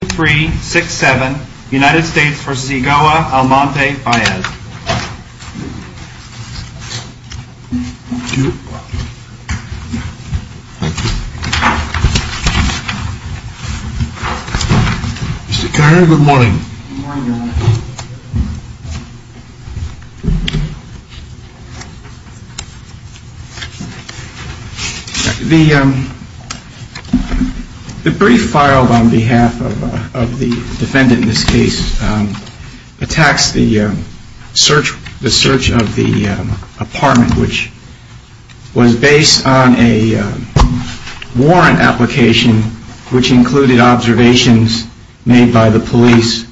Thank you. Mr. Conner, good morning. The brief filed on behalf of the defendant in this case attacks the search of the apartment which was based on a warrant application which included observations made by the police.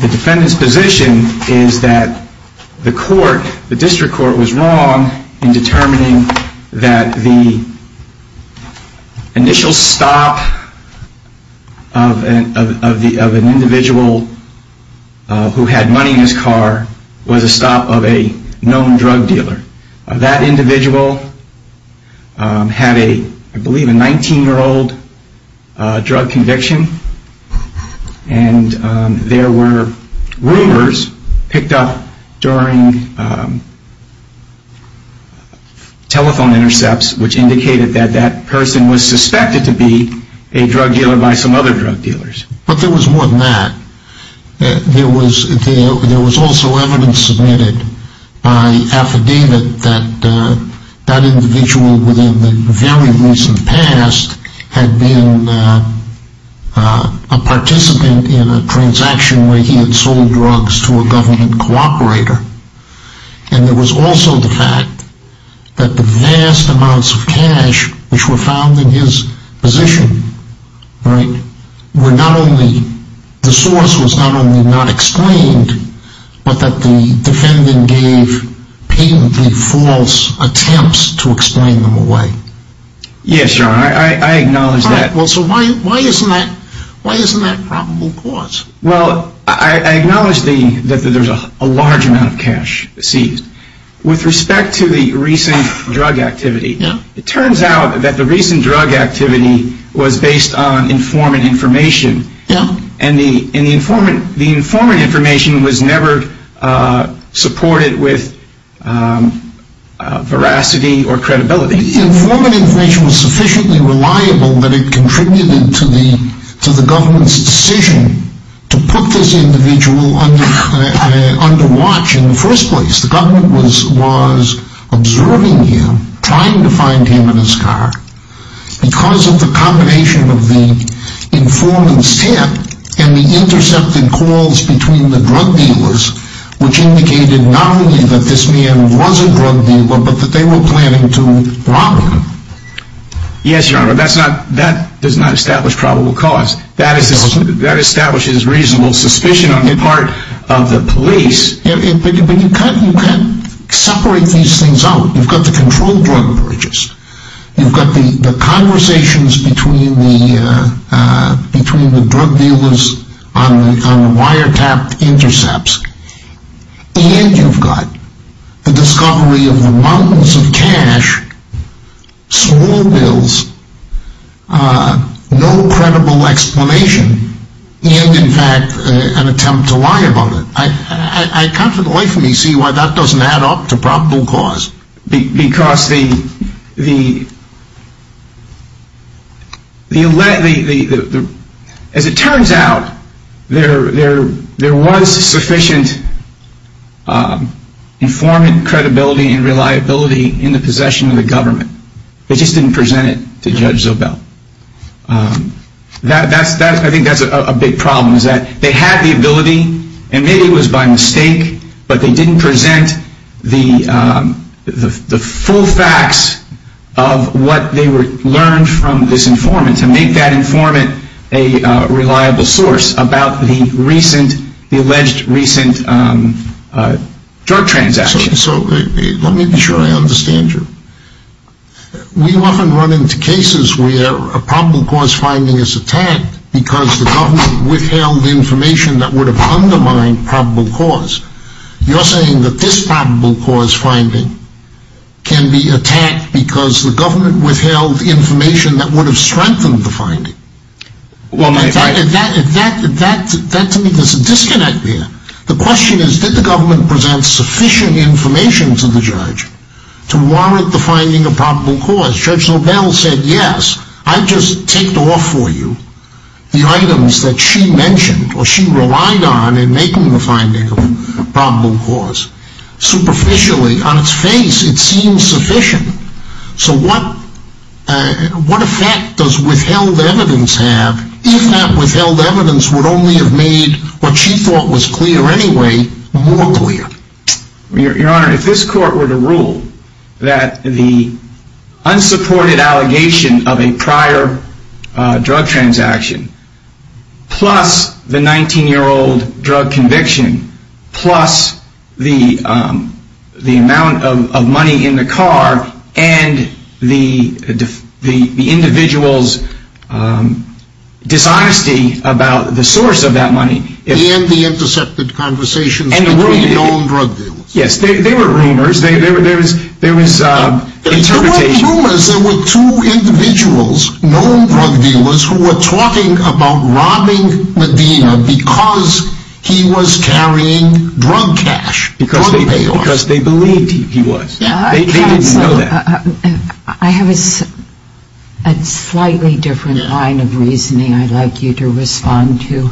The defendant's position is that the court, the district court, was wrong in determining that the initial stop of an individual who had money in his car was due to a warrant application. It was a stop of a known drug dealer. That individual had, I believe, a 19-year-old drug conviction and there were rumors picked up during telephone intercepts which indicated that that person was suspected to be a drug dealer by some other drug dealers. But there was more than that. There was also evidence submitted by affidavit that that individual within the very recent past had been a participant in a transaction where he had sold drugs to a government cooperator. And there was also the fact that the vast amounts of cash which were found in his position were not only, the source was not only not explained, but that the defendant gave patently false attempts to explain them away. Yes, your honor, I acknowledge that. So why isn't that probable cause? Well, I acknowledge that there's a large amount of cash seized. With respect to the recent drug activity, it turns out that the recent drug activity was based on informant information and the informant information was never supported with veracity or credibility. The informant information was sufficiently reliable that it contributed to the government's decision to put this individual under watch in the first place. The government was observing him, trying to find him in his car, because of the combination of the informant's tip and the intercepted calls between the drug dealers, which indicated not only that this man was a drug dealer, but that they were planning to rob him. Yes, your honor, but that does not establish probable cause. That establishes reasonable suspicion on the part of the police. But you can't separate these things out. You've got the controlled drug purchase, you've got the conversations between the drug dealers on wiretapped intercepts, and you've got the discovery of the mountains of cash, small bills, no credible explanation, and in fact an attempt to lie about it. I can't for the life of me see why that doesn't add up to probable cause. Because the, as it turns out, there was sufficient informant credibility and reliability in the possession of the government. They just didn't present it to Judge Zobel. I think that's a big problem, is that they had the ability, and maybe it was by mistake, but they didn't present the full facts of what they learned from this informant to make that informant a reliable source about the alleged recent drug transaction. Let me be sure I understand you. We often run into cases where a probable cause finding is attacked because the government withheld information that would have undermined probable cause. You're saying that this probable cause finding can be attacked because the government withheld information that would have strengthened the finding. There's a disconnect there. The question is, did the government present sufficient information to the judge to warrant the finding of probable cause? Judge Zobel said, yes, I just ticked off for you the items that she mentioned, or she relied on, in making the finding of probable cause. Superficially, on its face, it seems sufficient. So what effect does withheld evidence have, if that withheld evidence would only have made what she thought was clear anyway, more clear? Your Honor, if this court were to rule that the unsupported allegation of a prior drug transaction, plus the 19-year-old drug conviction, plus the amount of money in the car, and the individual's dishonesty about the source of that money... ...and the intercepted conversations between known drug dealers. Yes, there were rumors. There was interpretation. There were rumors there were two individuals, known drug dealers, who were talking about robbing Medina because he was carrying drug cash, drug payoffs. Because they believed he was. They didn't know that. I have a slightly different line of reasoning I'd like you to respond to.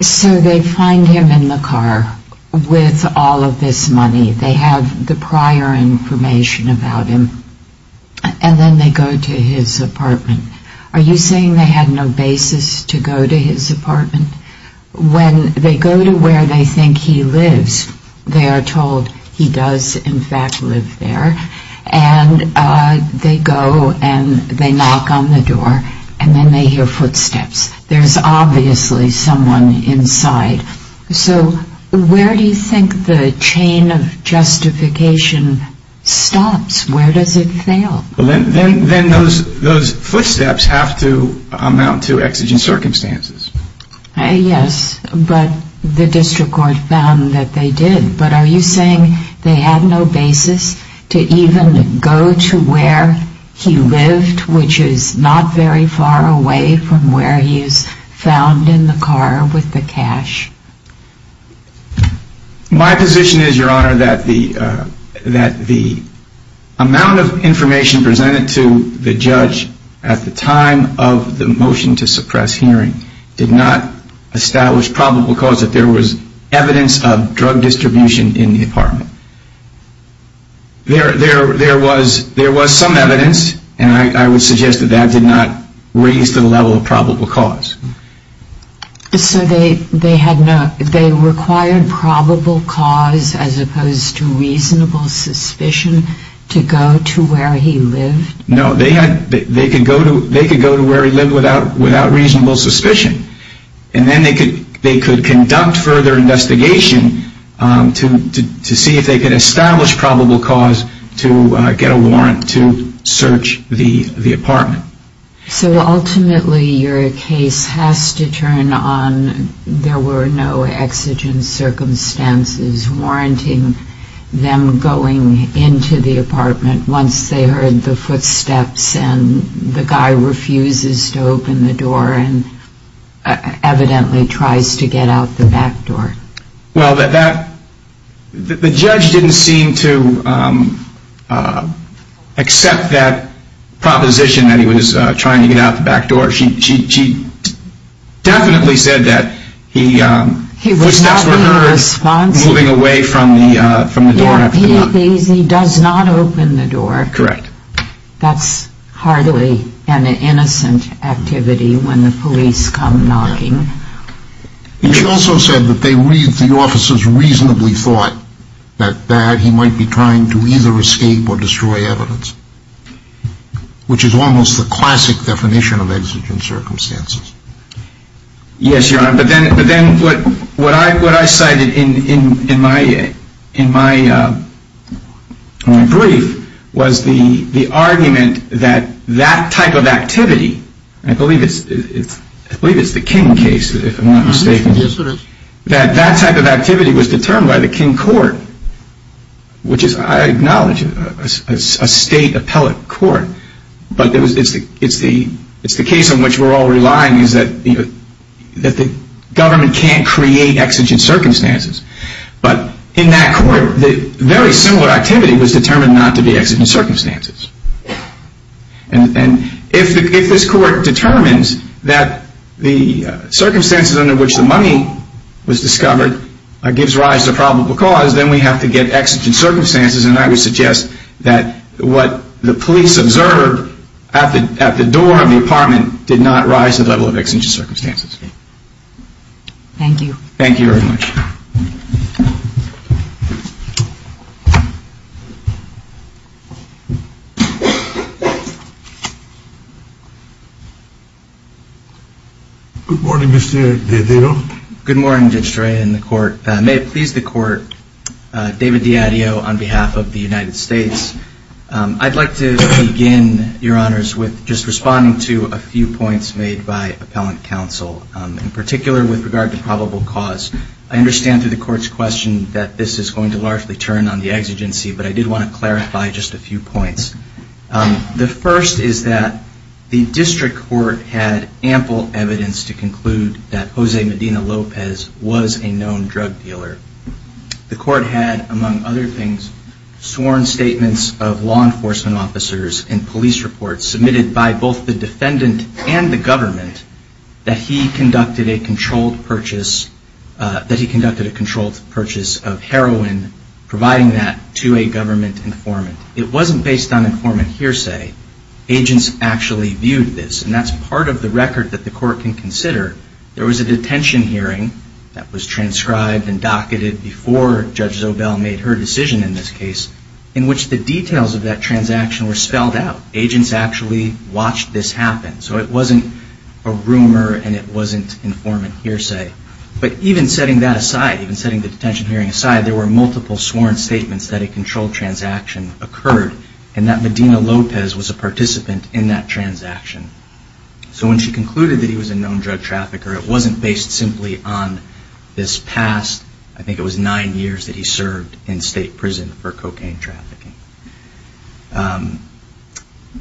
So they find him in the car with all of this money. They have the prior information about him. And then they go to his apartment. Are you saying they had no basis to go to his apartment? When they go to where they think he lives, they are told he does, in fact, live there. And they go and they knock on the door and then they hear footsteps. There's obviously someone inside. So where do you think the chain of justification stops? Where does it fail? Then those footsteps have to amount to exigent circumstances. Yes, but the district court found that they did. But are you saying they had no basis to even go to where he lived, which is not very far away from where he is found in the car with the cash? My position is, Your Honor, that the amount of information presented to the judge at the time of the motion to suppress hearing did not establish probable cause that there was evidence of drug distribution in the apartment. There was some evidence, and I would suggest that that did not raise the level of probable cause. So they required probable cause as opposed to reasonable suspicion to go to where he lived? No, they could go to where he lived without reasonable suspicion. And then they could conduct further investigation to see if they could establish probable cause to get a warrant to search the apartment. So ultimately your case has to turn on there were no exigent circumstances warranting them going into the apartment once they heard the footsteps and the guy refuses to open the door and evidently tries to get out the back door? Well, the judge didn't seem to accept that proposition that he was trying to get out the back door. She definitely said that he was moving away from the door after knocking. He does not open the door. Correct. That's hardly an innocent activity when the police come knocking. She also said that the officers reasonably thought that he might be trying to either escape or destroy evidence, which is almost the classic definition of exigent circumstances. Yes, Your Honor. But then what I cited in my brief was the argument that that type of activity, I believe it's the King case if I'm not mistaken, that that type of activity was determined by the King court, which is, I acknowledge, a state appellate court, but it's the case in which we're all relying is that the government can't create exigent circumstances. But in that court, very similar activity was determined not to be exigent circumstances. And if this court determines that the circumstances under which the money was discovered gives rise to probable cause, then we have to get exigent circumstances. And I would suggest that what the police observed at the door of the apartment did not rise to the level of exigent circumstances. Thank you. Thank you very much. Good morning, Mr. Dedeo. Good morning, Judge Dorea and the court. May it please the court, David Dedeo on behalf of the United States. I'd like to begin, Your Honors, with just responding to a few points made by appellant counsel, in particular with regard to probable cause. I understand through the court's question that this is going to largely turn on the exigency, but I did want to clarify just a few points. The first is that the district court had ample evidence to conclude that Jose Medina Lopez was a known drug dealer. The court had, among other things, sworn statements of law enforcement officers and police reports submitted by both the defendant and the government that he conducted a controlled purchase of heroin, providing that to a government informant. It wasn't based on informant hearsay. Agents actually viewed this, and that's part of the record that the court can consider. There was a detention hearing that was transcribed and docketed before Judge Zobel made her decision in this case, in which the details of that transaction were spelled out. Agents actually watched this happen. So it wasn't a rumor and it wasn't informant hearsay. But even setting that aside, even setting the detention hearing aside, there were multiple sworn statements that a controlled transaction occurred and that Medina Lopez was a participant in that transaction. So when she concluded that he was a known drug trafficker, it wasn't based simply on this past, I think it was nine years, that he served in state prison for cocaine trafficking.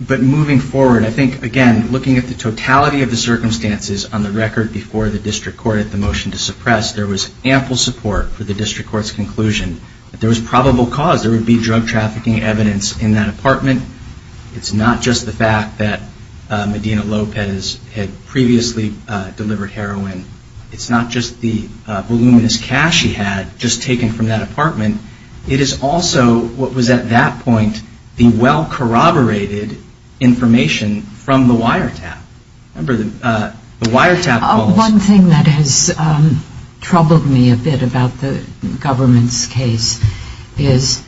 But moving forward, I think, again, looking at the totality of the circumstances on the record before the district court at the motion to suppress, there was ample support for the district court's conclusion that there was probable cause. There would be drug trafficking evidence in that apartment. It's not just the fact that Medina Lopez had previously delivered heroin. It's not just the voluminous cash he had just taken from that apartment. It is also what was at that point the well-corroborated information from the wiretap. One thing that has troubled me a bit about the government's case is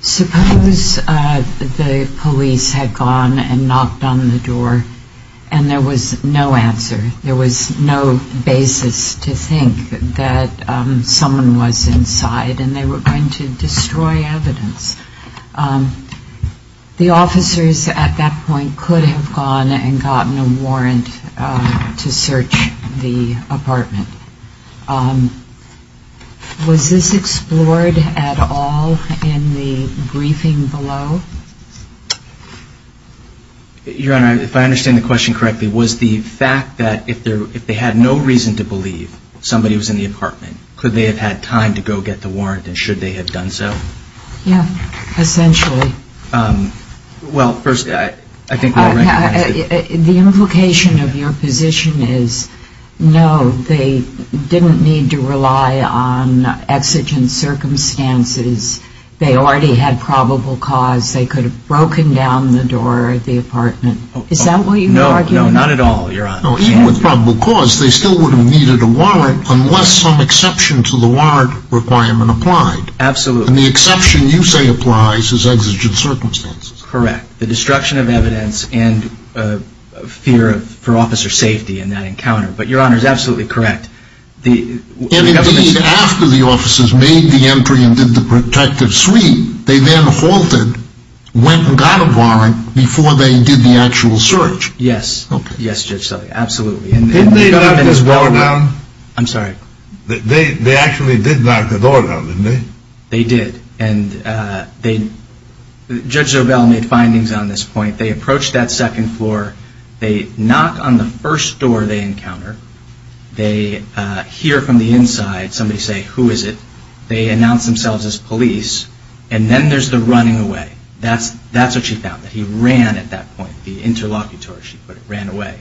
suppose the police had gone and knocked on the door and there was no answer. There was no basis to think that someone was inside and they were going to destroy evidence. The officers at that point could have gone and gotten a warrant to search the apartment. Was this explored at all in the briefing below? Your Honor, if I understand the question correctly, was the fact that if they had no reason to believe somebody was in the apartment, could they have had time to go get the warrant and should they have done so? Yeah, essentially. Well, first, I think what I recognize... The implication of your position is no, they didn't need to rely on exigent circumstances. They already had probable cause. They could have broken down the door of the apartment. Is that what you're arguing? No, not at all, Your Honor. Even with probable cause, they still wouldn't have needed a warrant unless some exception to the warrant requirement applied. Absolutely. And the exception you say applies is exigent circumstances. Correct. The destruction of evidence and fear for officer safety in that encounter. But Your Honor is absolutely correct. And indeed, after the officers made the entry and did the protective sweep, they then halted, went and got a warrant before they did the actual search. Yes. Okay. Yes, Judge Zobel, absolutely. Didn't they knock the door down? I'm sorry? They actually did knock the door down, didn't they? They did. Judge Zobel made findings on this point. They approached that second floor. They knock on the first door they encounter. They hear from the inside somebody say, Who is it? They announce themselves as police. And then there's the running away. That's what she found, that he ran at that point. The interlocutor, she put it, ran away.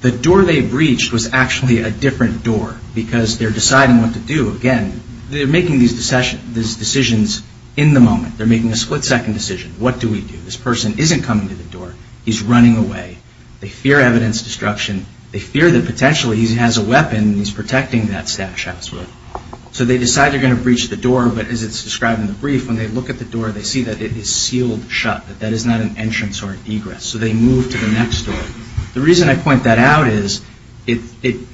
The door they breached was actually a different door because they're deciding what to do again. They're making these decisions. They're making a split-second decision. What do we do? This person isn't coming to the door. He's running away. They fear evidence destruction. They fear that potentially he has a weapon and he's protecting that stash house. So they decide they're going to breach the door. But as it's described in the brief, when they look at the door, they see that it is sealed shut, that that is not an entrance or an egress. So they move to the next door. The reason I point that out is it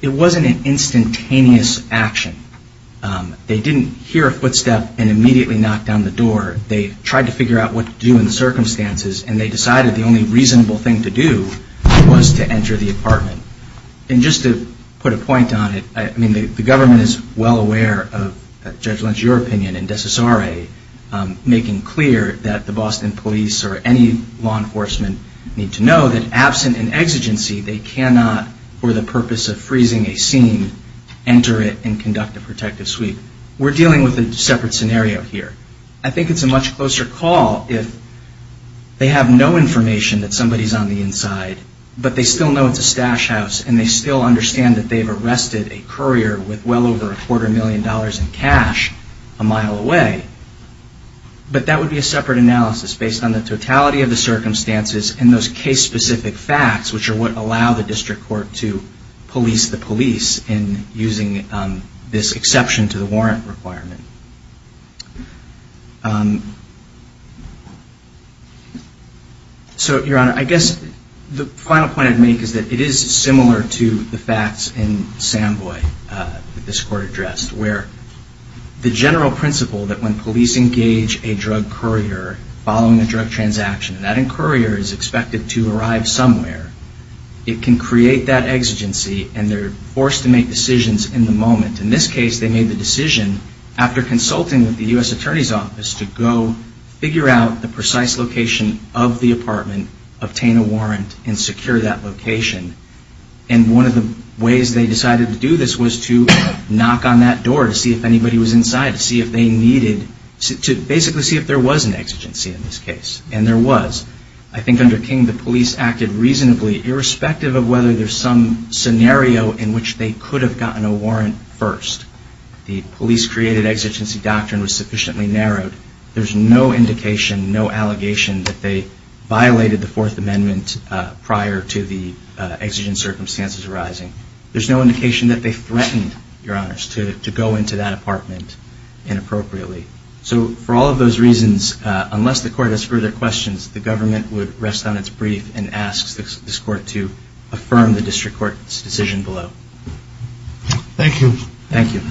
wasn't an instantaneous action. They didn't hear a footstep and immediately knock down the door. They tried to figure out what to do in the circumstances and they decided the only reasonable thing to do was to enter the apartment. And just to put a point on it, I mean, the government is well aware of, Judge Lynch, your opinion, in Decessare making clear that the Boston police or any law enforcement need to know that absent an exigency, they cannot, for the purpose of freezing a scene, enter it and conduct a protective sweep. We're dealing with a separate scenario here. I think it's a much closer call if they have no information that somebody's on the inside, but they still know it's a stash house and they still understand that they've arrested a courier with well over a quarter million dollars in cash a mile away. But that would be a separate analysis based on the totality of the circumstances and those case-specific facts which are what allow the district court to police the police in using this exception to the warrant requirement. So, Your Honor, I guess the final point I'd make is that it is similar to the facts in Samboy that this court addressed where the general principle that when police engage a drug courier following a drug transaction, that courier is expected to arrive somewhere, it can create that exigency and they're forced to make decisions in the moment. In this case, they made the decision after consulting with the U.S. Attorney's Office to go figure out the precise location of the apartment, obtain a warrant, and secure that location. And one of the ways they decided to do this was to knock on that door to see if anybody was inside to see if they needed... to basically see if there was an exigency in this case. And there was. I think under King, the police acted reasonably irrespective of whether there's some scenario in which they could have gotten a warrant first. The police-created exigency doctrine was sufficiently narrowed. There's no indication, no allegation that they violated the Fourth Amendment prior to the exigent circumstances arising. There's no indication that they threatened, Your Honors, to go into that apartment inappropriately. So, for all of those reasons, unless the court has further questions, the government would rest on its brief and ask this court to affirm the district court's decision below. Thank you. Thank you.